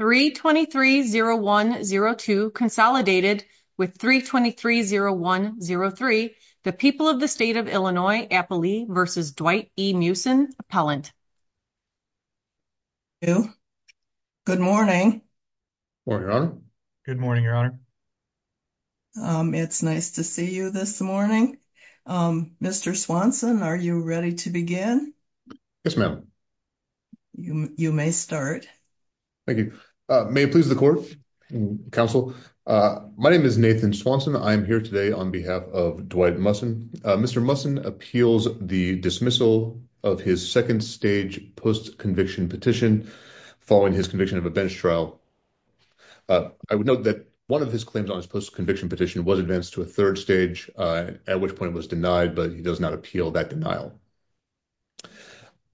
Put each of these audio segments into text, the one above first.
323-0102 consolidated with 323-0103. The people of the state of Illinois, Applee v. Dwight E. Musson, Appellant. Good morning. Good morning, Your Honor. It's nice to see you this morning. Mr. Swanson, are you ready to begin? Yes, ma'am. You may start. Thank you. May it please the court, counsel. My name is Nathan Swanson. I am here today on behalf of Dwight Musson. Mr. Musson appeals the dismissal of his second stage post-conviction petition following his conviction of a bench trial. I would note that one of his claims on his post-conviction petition was advanced to a third stage, at which point it was denied, but he does not appeal that denial.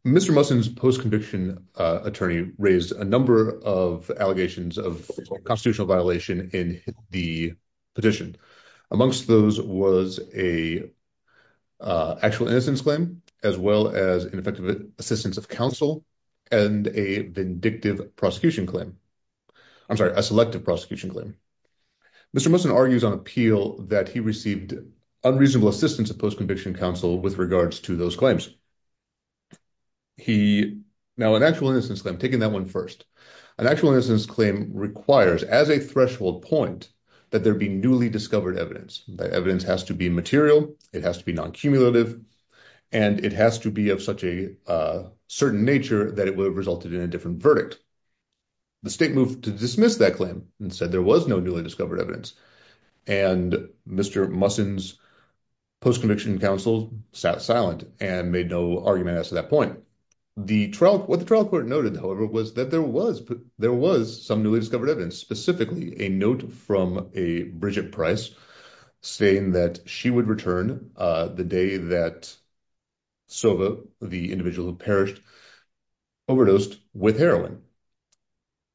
Mr. Musson's post-conviction attorney raised a number of allegations of constitutional violation in the petition. Amongst those was an actual innocence claim, as well as ineffective assistance of counsel, and a vindictive prosecution claim. I'm sorry, a selective prosecution claim. Mr. Musson argues on appeal that he received unreasonable assistance of post-conviction counsel with regards to those claims. Now, an actual innocence claim, taking that one first, an actual innocence claim requires as a threshold point that there be newly discovered evidence. That evidence has to be material, it has to be non-cumulative, and it has to be of such a certain nature that it would have resulted in a different verdict. The state moved to dismiss that claim and said there was no newly discovered evidence, and Mr. Musson's post-conviction counsel sat silent and made no argument as to that point. What the trial court noted, however, was that there was some newly discovered evidence, specifically a note from a Bridget Price saying that she would return the day that Sova, the individual who perished, overdosed with heroin.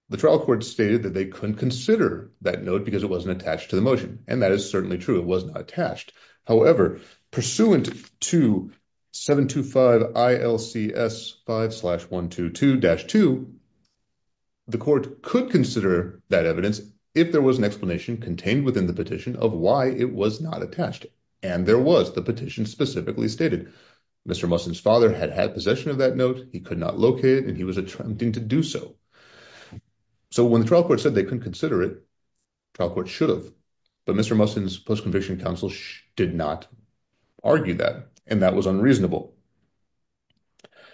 The trial court stated that they couldn't consider that note because it wasn't attached to the motion, and that is certainly true, it was not attached. However, pursuant to 725 ILCS 5-122-2, the court could consider that evidence if there was an explanation contained within the petition of why it was not attached, and there was, the petition specifically stated. Mr. Musson's father had had possession of that note, he could not locate it, and he was attempting to do so. So when the trial court said they couldn't consider it, the trial court should have, but Mr. Musson's post-conviction counsel did not argue that, and that was unreasonable.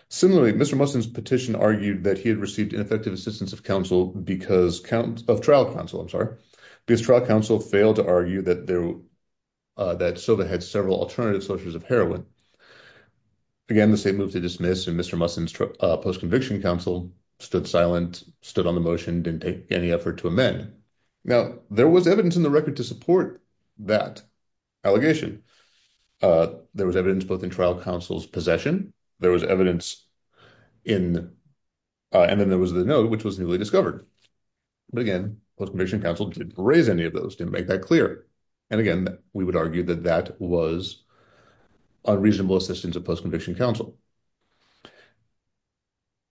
Similarly, Mr. Musson's petition argued that he had received ineffective assistance of counsel because, of trial counsel, I'm sorry, because trial counsel failed to argue that again. The state moved to dismiss, and Mr. Musson's post-conviction counsel stood silent, stood on the motion, didn't take any effort to amend. Now, there was evidence in the record to support that allegation. There was evidence both in trial counsel's possession, there was evidence in, and then there was the note which was newly discovered, but again, post-conviction counsel didn't raise any of those, didn't make that clear, and again, we would argue that that was unreasonable assistance of post-conviction counsel.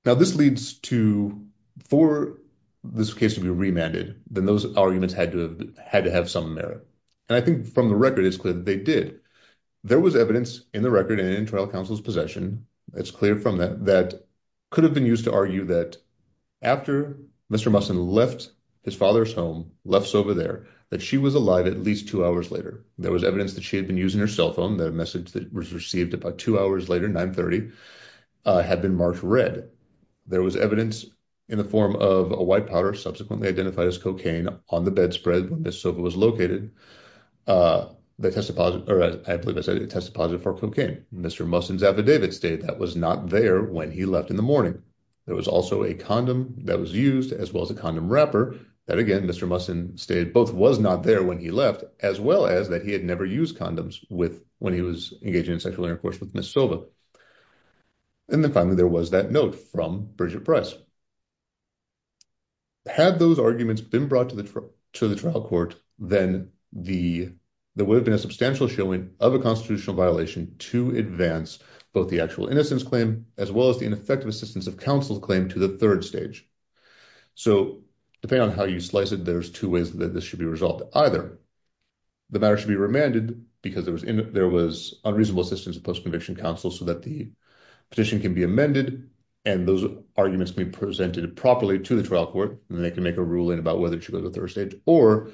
Now, this leads to, for this case to be remanded, then those arguments had to have some merit, and I think from the record, it's clear that they did. There was evidence in the record, and in trial counsel's possession, it's clear from that, that could have been used to argue that after Mr. Musson left his father's home, left Sova there, that she was alive at least two hours later. There was evidence that she had been using her cell phone, that a message that was received about two hours later, 930, had been marked red. There was evidence in the form of a white powder, subsequently identified as cocaine, on the bedspread when Ms. Sova was located, the test deposit, or I believe I said a test deposit for cocaine. Mr. Musson's affidavit stated that was not there when he left in the morning. There was also a condom that was used, as well as a condom wrapper, that again, Mr. Musson stated both was not there when he left, as well as that he had never used condoms when he was engaging in sexual intercourse with Ms. Sova. And then finally, there was that note from Bridget Price. Had those arguments been brought to the trial court, then there would have been a substantial showing of a constitutional violation to advance both the actual innocence claim, as well as the ineffective assistance of counsel claim to the third stage. So, depending on how you slice it, there's two ways that this should be resolved. Either the matter should be remanded because there was unreasonable assistance of post-conviction counsel so that the petition can be amended, and those arguments can be presented properly to the trial court, and they can make a ruling about whether it should go to the third stage, or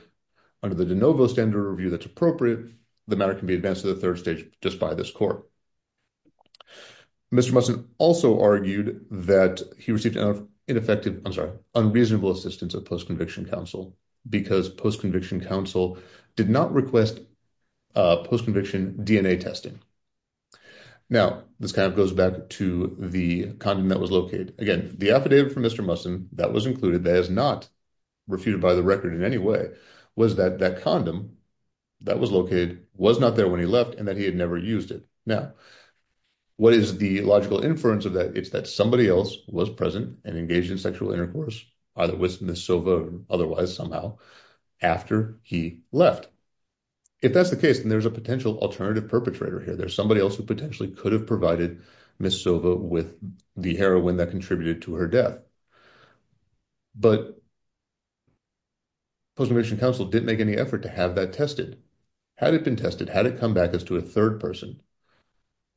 under the de novo standard review that's appropriate, the matter can be advanced to the third stage just by this court. Mr. Musson also argued that he received ineffective, I'm sorry, unreasonable assistance of post-conviction counsel because post-conviction counsel did not request post-conviction DNA testing. Now, this kind of goes back to the condom that was located. Again, the affidavit from Mr. Musson, that was included, that is not refuted by the record in any way, was that that condom that was located was not there when he left and that he had never used it. Now, what is the logical inference of that? It's that somebody else was present and engaged in sexual intercourse, either with Ms. Sova or otherwise somehow, after he left. If that's the case, then there's a potential alternative perpetrator here. There's somebody else who potentially could have provided Ms. Sova with the heroin that contributed to her death. But post-conviction counsel didn't make any effort to have that tested. Had it been tested, had it come back as to a third person,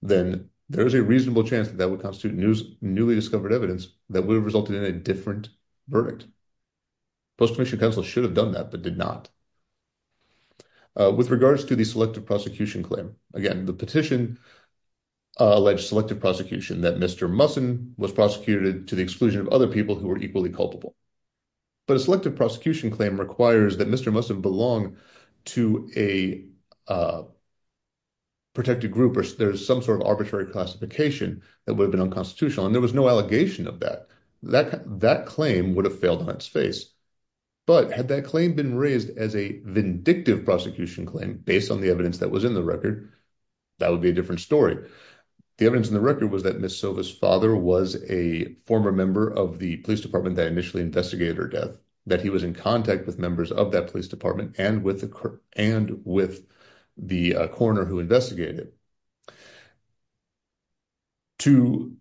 then there's a reasonable chance that that would constitute newly discovered evidence that would have resulted in a different verdict. Post-conviction counsel should have done that, but did not. With regards to the selective prosecution claim, again, the petition alleged selective prosecution that Mr. Musson was prosecuted to the exclusion of other people who were equally culpable. But a selective prosecution claim requires that Mr. Musson belonged to a protected group or there's some sort of arbitrary classification that would have been unconstitutional, and there was no allegation of that. That claim would have failed on its face. But had that claim been raised as a vindictive prosecution claim based on the evidence that was in the record, that would be a different story. The evidence in the record was that Ms. Musson was a member of the police department that initially investigated her death, that he was in contact with members of that police department and with the coroner who investigated. To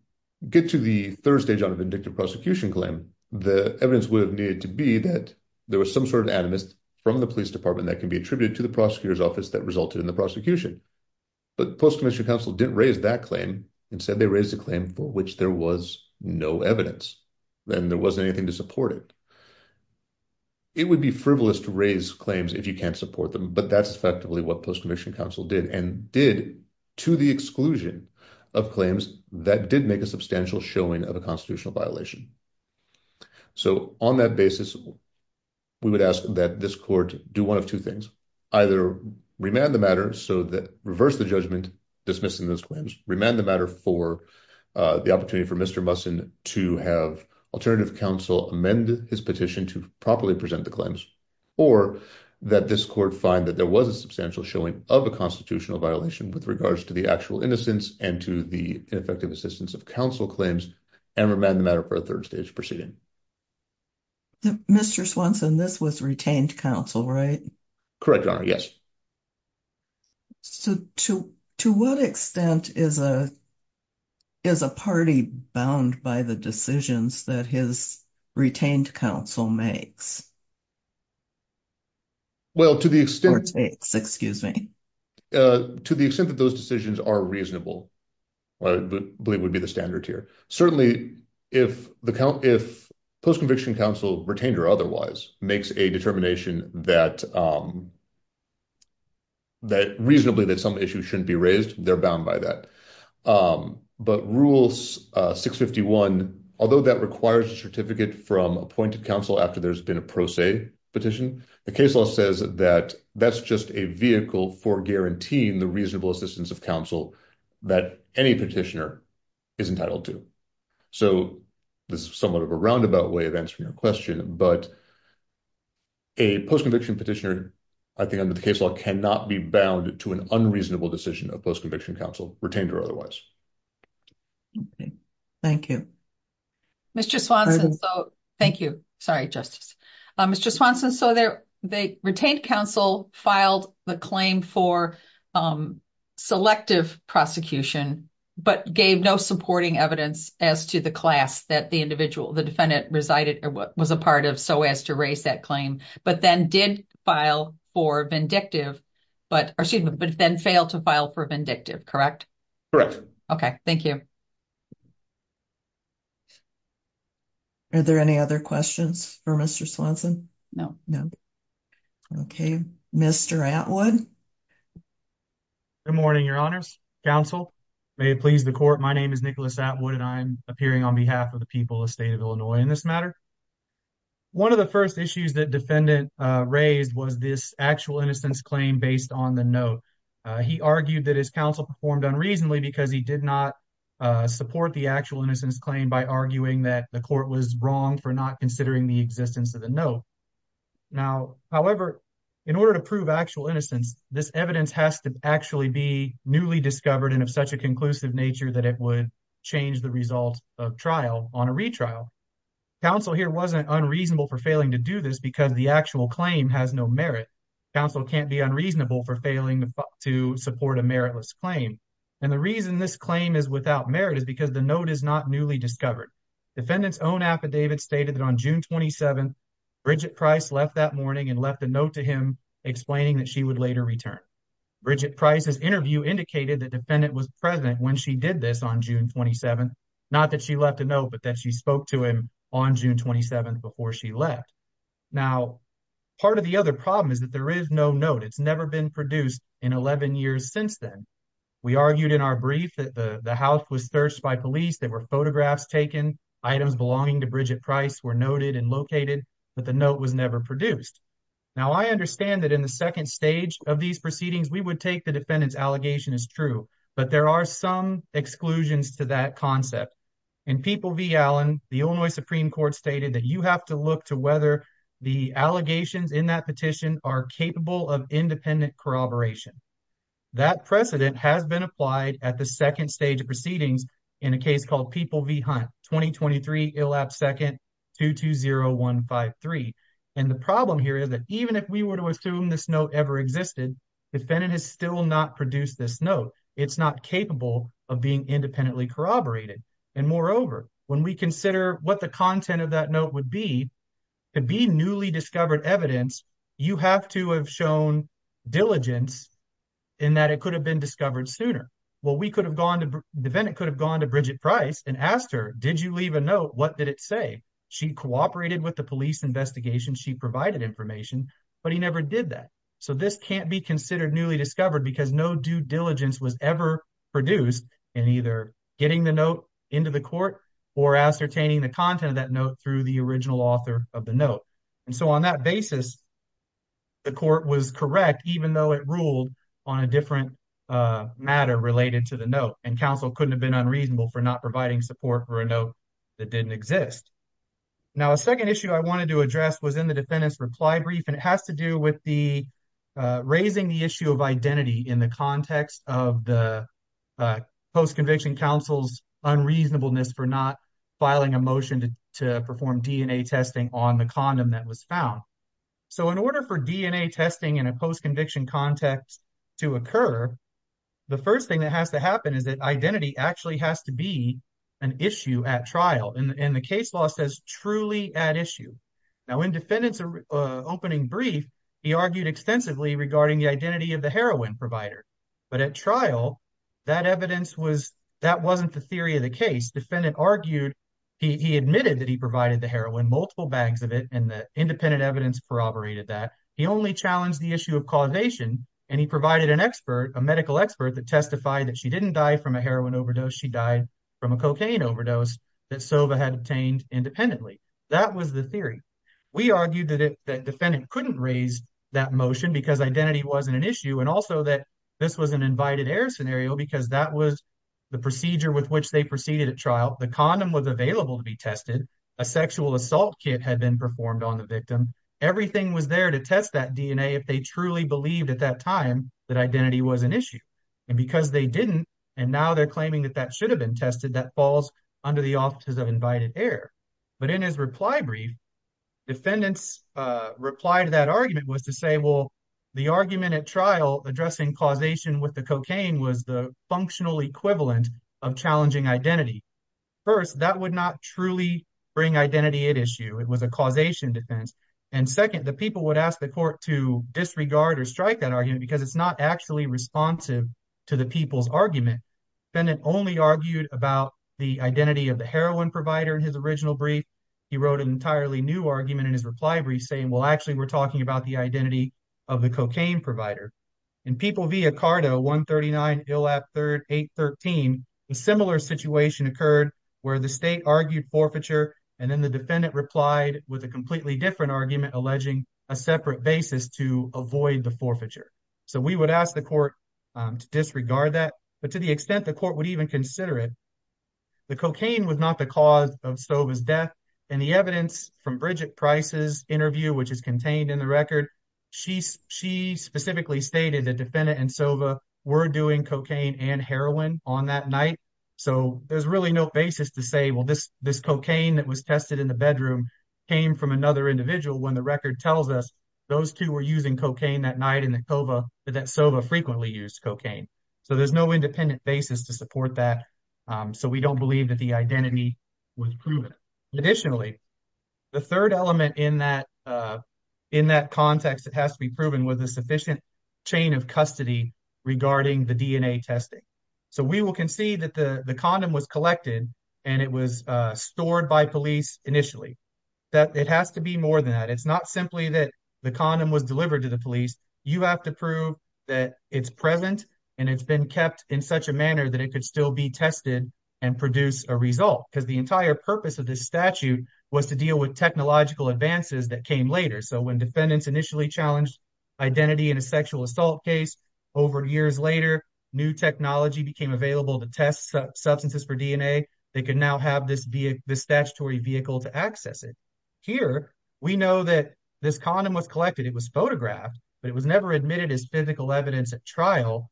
get to the third stage on a vindictive prosecution claim, the evidence would have needed to be that there was some sort of animus from the police department that can be attributed to the prosecutor's office that resulted in the prosecution. But post-conviction counsel didn't raise that claim. Instead, they raised a claim for which there was no evidence. Then there wasn't anything to support it. It would be frivolous to raise claims if you can't support them, but that's effectively what post-conviction counsel did and did to the exclusion of claims that did make a substantial showing of a constitutional violation. So on that basis, we would ask that this court do one of two things. Either remand the matter so that reverse the judgment dismissing those claims, remand the matter for the opportunity for Mr. Swanson to have alternative counsel amend his petition to properly present the claims, or that this court find that there was a substantial showing of a constitutional violation with regards to the actual innocence and to the ineffective assistance of counsel claims and remand the matter for a third stage proceeding. Mr. Swanson, this was retained counsel, right? Correct, Your Honor. Yes. So to what extent is a party bound by the decisions that his retained counsel makes or takes? Well, to the extent that those decisions are reasonable, I believe would be the standard here. Certainly, if post-conviction counsel, retained or otherwise, makes a determination that reasonably that some issue shouldn't be raised, they're bound by that. But Rule 651, although that requires a certificate from appointed counsel after there's been a pro se petition, the case law says that that's just a vehicle for guaranteeing the reasonable assistance of counsel that any petitioner is entitled to. So this is somewhat of a roundabout way of answering your question, but a post-conviction petitioner, I think under the case law, cannot be bound to an unreasonable decision of post-conviction counsel, retained or otherwise. Okay, thank you. Mr. Swanson, thank you. Sorry, Justice. Mr. Swanson, so the retained counsel filed the claim for selective prosecution, but gave no supporting evidence as to the class that the individual, the defendant, resided or was a part of so as to raise that claim, but then did file for vindictive, but then failed to file for vindictive, correct? Correct. Okay, thank you. Are there any other questions for Mr. Swanson? No, no. Okay, Mr. Atwood. Good morning, Your Honors. Counsel, may it please the court, my name is Nicholas Atwood and I'm appearing on behalf of the people of the state of Illinois in this matter. One of the first issues that defendant raised was this actual innocence claim based on the note. He argued that his counsel performed unreasonably because he did not support the actual innocence claim by arguing that the court was wrong for not considering the existence of the note. Now, however, in order to prove actual innocence, this evidence has to actually be newly discovered and of such a conclusive nature that it would change the result of trial on a retrial. Counsel here wasn't unreasonable for failing to do this because the actual claim has no merit. Counsel can't be unreasonable for failing to support a meritless claim. And the reason this claim is without merit is because the note is not newly discovered. Defendant's own affidavit stated that on June 27th, Bridget Price left that morning and left a note to him explaining that she would later return. Bridget Price's interview indicated that defendant was present when she did this on June 27th, not that she left a note, but that she spoke to him on June 27th before she left. Now, part of the other problem is that there is no note. It's never been produced in 11 years since then. We argued in our brief that the house was searched by police, there were photographs taken, items belonging to Bridget Price were noted and located, but the note was never produced. Now, I understand that in the second stage of these proceedings, we would take the defendant's allegation as true, but there are some exclusions to that concept. In People v. Allen, the Illinois Supreme Court stated that you have to look to whether the allegations in that petition are capable of independent corroboration. That precedent has been applied at the second stage of proceedings in a case called People v. Hunt, 2023, ILAP second, 220153. And the problem here is that even if we were to assume this note ever existed, defendant has still not produced this note. It's not capable of being independently corroborated. And moreover, when we consider what the content of that note would be, to be newly discovered evidence, you have to have shown diligence in that it could have been discovered sooner. The defendant could have gone to Bridget Price and asked her, did you leave a note? What did it say? She cooperated with the police investigation, she provided information, but he never did that. So this can't be considered newly discovered because no due diligence was ever produced in either getting the note into the court or ascertaining the content of that note through the original author of the note. And so on that basis, the court was correct, even though it ruled on a different matter related to the note and counsel couldn't have been unreasonable for not providing support for a note that didn't exist. Now, a second issue I wanted to address was in the defendant's reply brief, and it has to do with the raising the issue of identity in the context of the post-conviction counsel's unreasonableness for not filing a motion to perform DNA testing on the condom that was found. So in order for DNA testing in a post-conviction context to occur, the first thing that has to happen is that identity actually has to be an issue at trial, and the case law says truly at issue. Now, in defendant's opening brief, he argued extensively regarding the identity of heroin provider, but at trial, that evidence was, that wasn't the theory of the case. Defendant argued, he admitted that he provided the heroin, multiple bags of it, and the independent evidence corroborated that. He only challenged the issue of causation, and he provided an expert, a medical expert that testified that she didn't die from a heroin overdose, she died from a cocaine overdose that Sova had obtained independently. That was the theory. We argued that defendant couldn't raise that motion because identity wasn't an issue, and also that this was an invited error scenario because that was the procedure with which they proceeded at trial. The condom was available to be tested. A sexual assault kit had been performed on the victim. Everything was there to test that DNA if they truly believed at that time that identity was an issue, and because they didn't, and now they're claiming that that should have been tested, that falls under the offices of error. But in his reply brief, defendant's reply to that argument was to say, well, the argument at trial addressing causation with the cocaine was the functional equivalent of challenging identity. First, that would not truly bring identity at issue. It was a causation defense, and second, the people would ask the court to disregard or strike that argument because it's not actually responsive to the people's argument. Defendant only argued about the identity of the heroin provider in his original brief. He wrote an entirely new argument in his reply brief saying, well, actually, we're talking about the identity of the cocaine provider. In People v. Ocardo 139, ILAP 813, a similar situation occurred where the state argued forfeiture, and then the defendant replied with a completely different argument alleging a separate basis to avoid the forfeiture. So we would ask the court to disregard that, but to the extent the court would even consider it. The cocaine was not the cause of Sova's death, and the evidence from Bridget Price's interview, which is contained in the record, she specifically stated that defendant and Sova were doing cocaine and heroin on that night. So there's really no basis to say, well, this cocaine that was tested in the bedroom came from another individual when the record tells us those two were using cocaine that night and that Sova frequently used cocaine. So there's no independent basis to support that. So we don't believe that the identity was proven. Additionally, the third element in that context that has to be proven was a sufficient chain of custody regarding the DNA testing. So we will concede that the condom was collected and it was stored by police initially. It has to be more than that. It's not simply that the condom was delivered to the police. You have to prove that it's present and it's been kept in such a manner that it could still be tested and produce a result because the entire purpose of this statute was to deal with technological advances that came later. So when defendants initially challenged identity in a sexual assault case over years later, new technology became available to test substances for DNA. They can now have this statutory vehicle to access it. Here, we know that this condom was photographed, but it was never admitted as physical evidence at trial.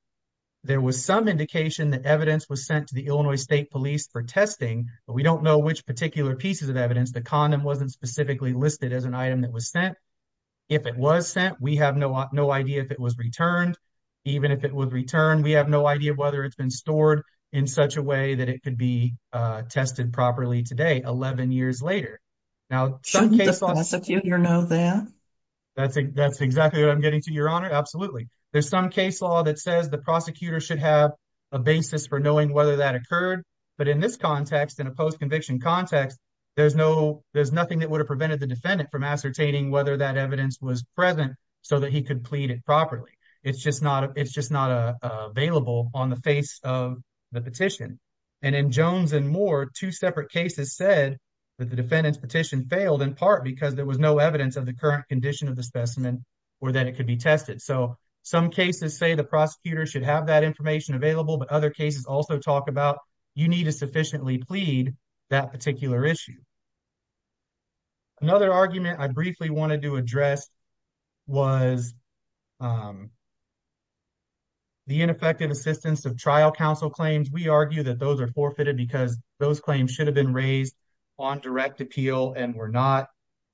There was some indication that evidence was sent to the Illinois State Police for testing, but we don't know which particular pieces of evidence. The condom wasn't specifically listed as an item that was sent. If it was sent, we have no idea if it was returned. Even if it was returned, we have no idea whether it's been stored in such a way that it could be tested properly today, 11 years later. Now, shouldn't the prosecutor know that? That's exactly what I'm getting to, Your Honor, absolutely. There's some case law that says the prosecutor should have a basis for knowing whether that occurred, but in this context, in a post-conviction context, there's nothing that would have prevented the defendant from ascertaining whether that evidence was present so that he could plead it properly. It's just not available on the face of the petition. And in Jones and Moore, two separate cases said that the defendant's petition failed, in part because there was no evidence of the current condition of the specimen or that it could be tested. So, some cases say the prosecutor should have that information available, but other cases also talk about you need to sufficiently plead that particular issue. Another argument I briefly wanted to address was the ineffective assistance of trial counsel claims. We argue that those are forfeited because those claims should have been raised on direct appeal and were not.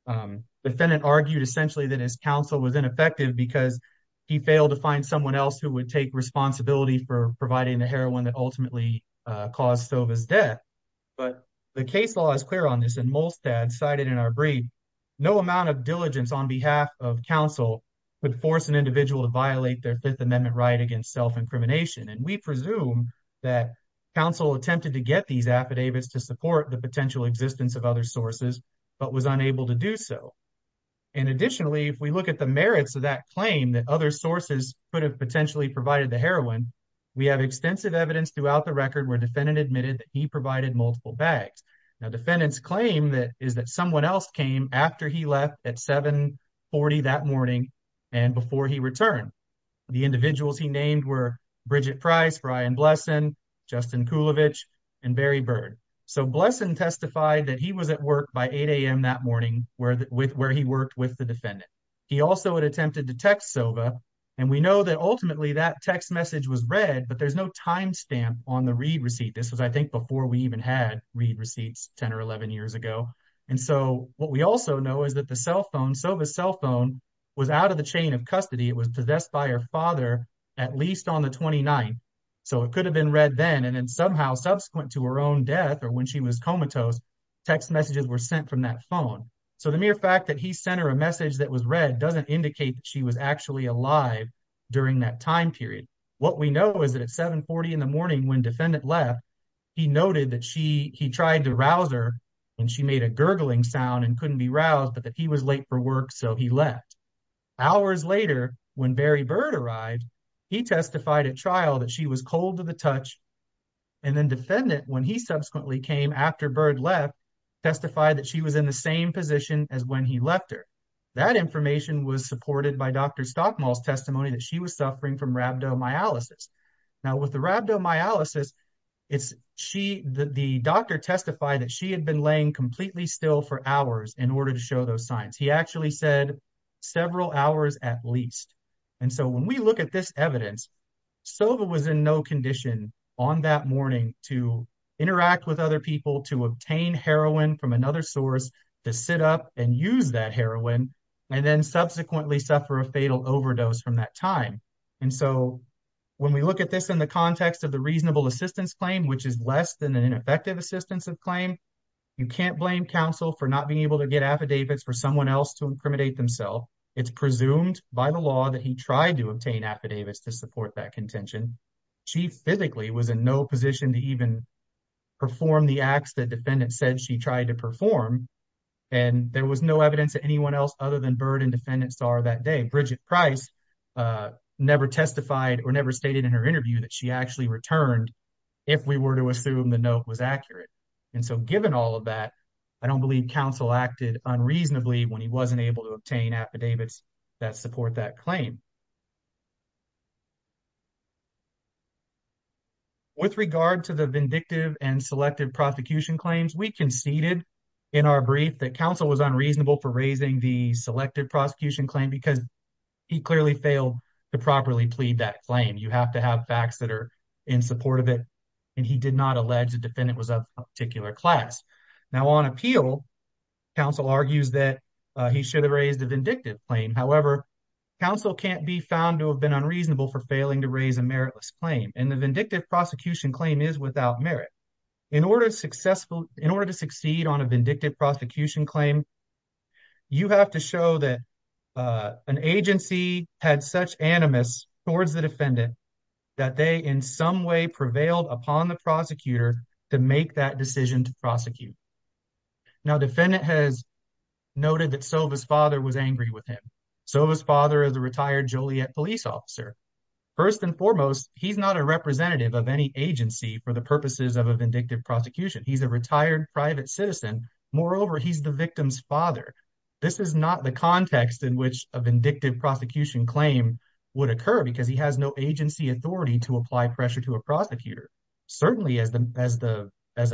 The defendant argued essentially that his counsel was ineffective because he failed to find someone else who would take responsibility for providing the heroin that ultimately caused Sova's death. But the case law is clear on this, and Molstad cited in our brief, no amount of diligence on behalf of counsel would force an individual to violate their Fifth Amendment right against self-incrimination. And we presume that counsel attempted to get these affidavits to support the potential existence of other sources, but was unable to do so. And additionally, if we look at the merits of that claim that other sources could have potentially provided the heroin, we have extensive evidence throughout the record where defendant admitted that he provided multiple bags. Now, defendant's claim is that someone else came after he left at 7.40 that morning and before he returned. The individuals he named were Bridget Price, Brian Blesson, Justin Kulovich, and Barry Bird. So, Blesson testified that he was at work by 8 a.m. that morning where he worked with the defendant. He also had attempted to text Sova, and we know that ultimately that text message was read, but there's no timestamp on the read receipt. This was, I think, before we even had read receipts 10 or 11 years ago. And so, what we also know is that the cell phone, Sova's cell phone, was out of the chain of custody. It was possessed by her father at least on the 29th, so it could have been read then, and then somehow subsequent to her own death or when she was comatose, text messages were sent from that phone. So, the mere fact that he sent her a message that was read doesn't indicate that she was actually alive during that time period. What we know is that at 7.40 in the morning when defendant left, he noted that he tried to rouse her, and she made a gurgling sound and couldn't be roused, but that he was late for work, so he left. Hours later, when Barry Bird arrived, he testified at trial that she was cold to the touch, and then defendant, when he subsequently came after Bird left, testified that she was in the same position as when he left her. That information was supported by Dr. Stockmall's rhabdomyolysis. Now, with the rhabdomyolysis, the doctor testified that she had been laying completely still for hours in order to show those signs. He actually said several hours at least, and so when we look at this evidence, Sova was in no condition on that morning to interact with other people, to obtain heroin from another source, to sit up and use that heroin, and then subsequently suffer a fatal overdose from that time, and so when we look at this in the context of the reasonable assistance claim, which is less than an ineffective assistance of claim, you can't blame counsel for not being able to get affidavits for someone else to incriminate themselves. It's presumed by the law that he tried to obtain affidavits to support that contention. She physically was in no position to even perform the acts that defendant said she tried to perform, and there was no evidence that anyone else other than Byrd and defendants saw her that day. Bridget Price never testified or never stated in her interview that she actually returned if we were to assume the note was accurate, and so given all of that, I don't believe counsel acted unreasonably when he wasn't able to obtain affidavits that support that claim. With regard to the vindictive and selective prosecution claims, we conceded in our brief that counsel was unreasonable for raising the selective prosecution claim because he clearly failed to properly plead that claim. You have to have facts that are in support of it, and he did not allege the defendant was of a particular class. Now on appeal, counsel argues that he should have raised a vindictive claim. However, counsel can't be found to have been unreasonable for failing to raise a meritless claim, and the vindictive prosecution claim is without merit. In order to succeed on a vindictive prosecution claim, you have to show that an agency had such animus towards the defendant that they in some way prevailed upon the prosecutor to make that decision to prosecute. Now defendant has noted that Sova's father was angry with him. Sova's father is a retired police officer. First and foremost, he's not a representative of any agency for the purposes of a vindictive prosecution. He's a retired private citizen. Moreover, he's the victim's father. This is not the context in which a vindictive prosecution claim would occur because he has no agency authority to apply pressure to a prosecutor. Certainly as a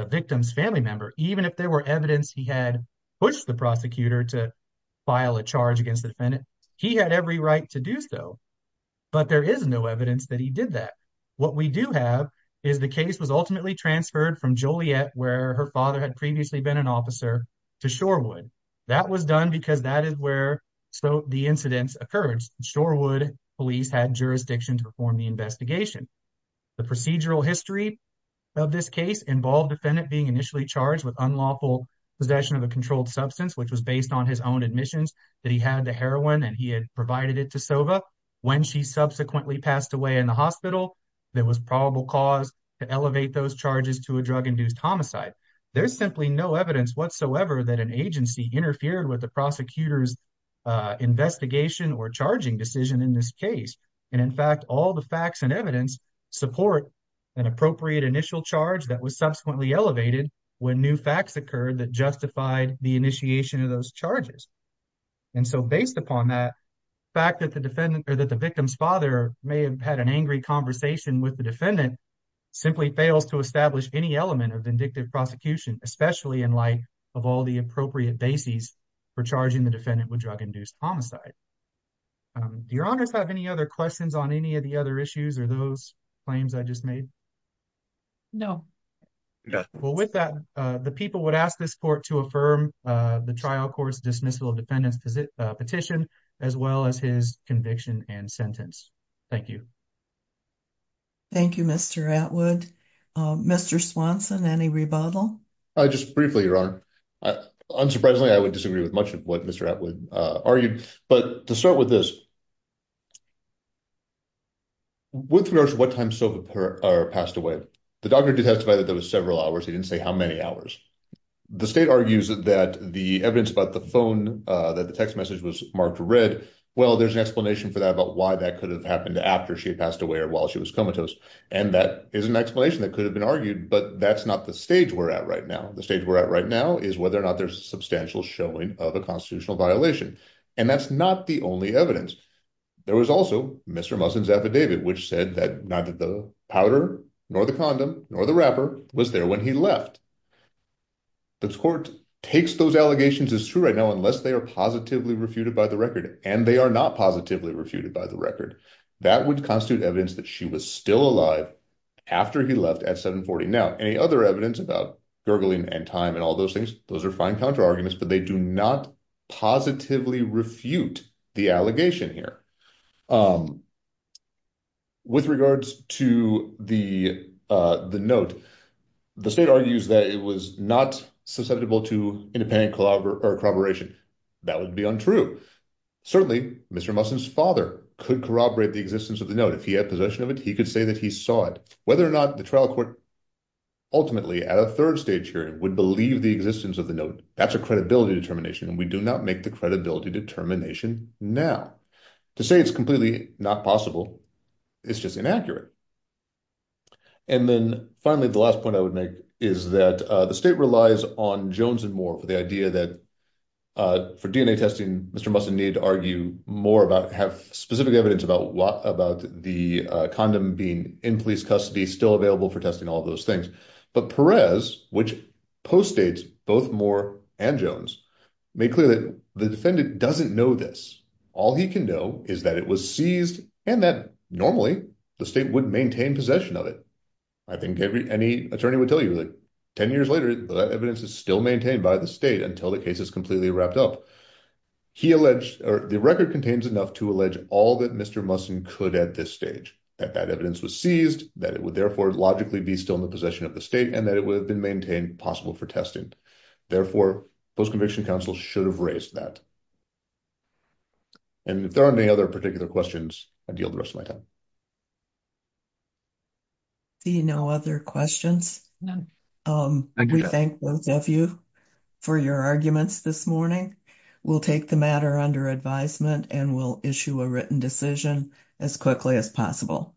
victim's family member, even if there were evidence he had pushed the prosecutor to file a charge against the defendant, he had every right to do so. But there is no evidence that he did that. What we do have is the case was ultimately transferred from Joliet, where her father had previously been an officer, to Shorewood. That was done because that is where the incidents occurred. Shorewood police had jurisdiction to perform the investigation. The procedural history of this case involved defendant being initially charged with unlawful possession of a controlled substance, which was based on his own admissions that he had the heroin and he had provided it to Sova. When she subsequently passed away in the hospital, there was probable cause to elevate those charges to a drug-induced homicide. There's simply no evidence whatsoever that an agency interfered with the prosecutor's investigation or charging decision in this case. And in fact, all the facts and evidence support an appropriate initial charge that was subsequently elevated when new facts occurred that justified the initiation of those charges. And so based upon that, fact that the victim's father may have had an angry conversation with the defendant simply fails to establish any element of vindictive prosecution, especially in light of all the appropriate bases for charging the defendant with drug-induced homicide. Do your honors have any other questions on any of the other issues or those claims I just made? No. Well, with that, the people would ask this court to affirm the trial court's dismissal of defendants petition as well as his conviction and sentence. Thank you. Thank you, Mr. Atwood. Mr. Swanson, any rebuttal? Just briefly, your honor. Unsurprisingly, I would disagree with much of what Mr. Atwood argued. But to start with this, with regards to what time Sova passed away, the doctor did testify that there was several hours. He didn't say how many hours. The state argues that the evidence about the phone, that the text message was marked red. Well, there's an explanation for that about why that could have happened after she had passed away or while she was comatose. And that is an explanation that could have been argued. But that's not the stage we're at right now. The stage we're at right now is whether or not there's substantial showing of a constitutional violation. And that's not the only evidence. There was also Mr. Musson's affidavit, which said that neither the powder nor the condom nor the rapper was there when he left. The court takes those allegations as true right now unless they are positively refuted by the record and they are not positively refuted by the record. That would constitute evidence that she was still alive after he left at 740. Now, any other evidence about gurgling and time and all those things, those are fine counterarguments, but they do not positively refute the allegation here. With regards to the note, the state argues that it was not susceptible to independent corroboration. That would be untrue. Certainly, Mr. Musson's father could corroborate the existence of the note. If he had possession of it, he could say that he saw it. Whether or not the trial court ultimately at a third stage hearing would believe the existence of the note, that's a credibility determination. And we do not make the credibility determination now. To say it's completely not possible, it's just inaccurate. And then finally, the last point I would make is that the state relies on Jones and Moore for the idea that for DNA testing, Mr. Musson needed to argue more about, have specific evidence about the condom being in police custody, still available for testing, all those things. But Perez, which postdates both Moore and Jones, made clear that the defendant doesn't know this. All he can know is that it was seized and that normally the state would maintain possession of it. I think any attorney would tell you that 10 years later, that evidence is still maintained by the state until the case is completely wrapped up. The record contains enough to all that Mr. Musson could at this stage, that that evidence was seized, that it would therefore logically be still in the possession of the state and that it would have been maintained possible for testing. Therefore, post-conviction counsel should have raised that. And if there aren't any other particular questions, I deal the rest of my time. See no other questions. We thank both of you for your arguments this morning. We'll take the matter under advisement and we'll issue a written decision as quickly as possible.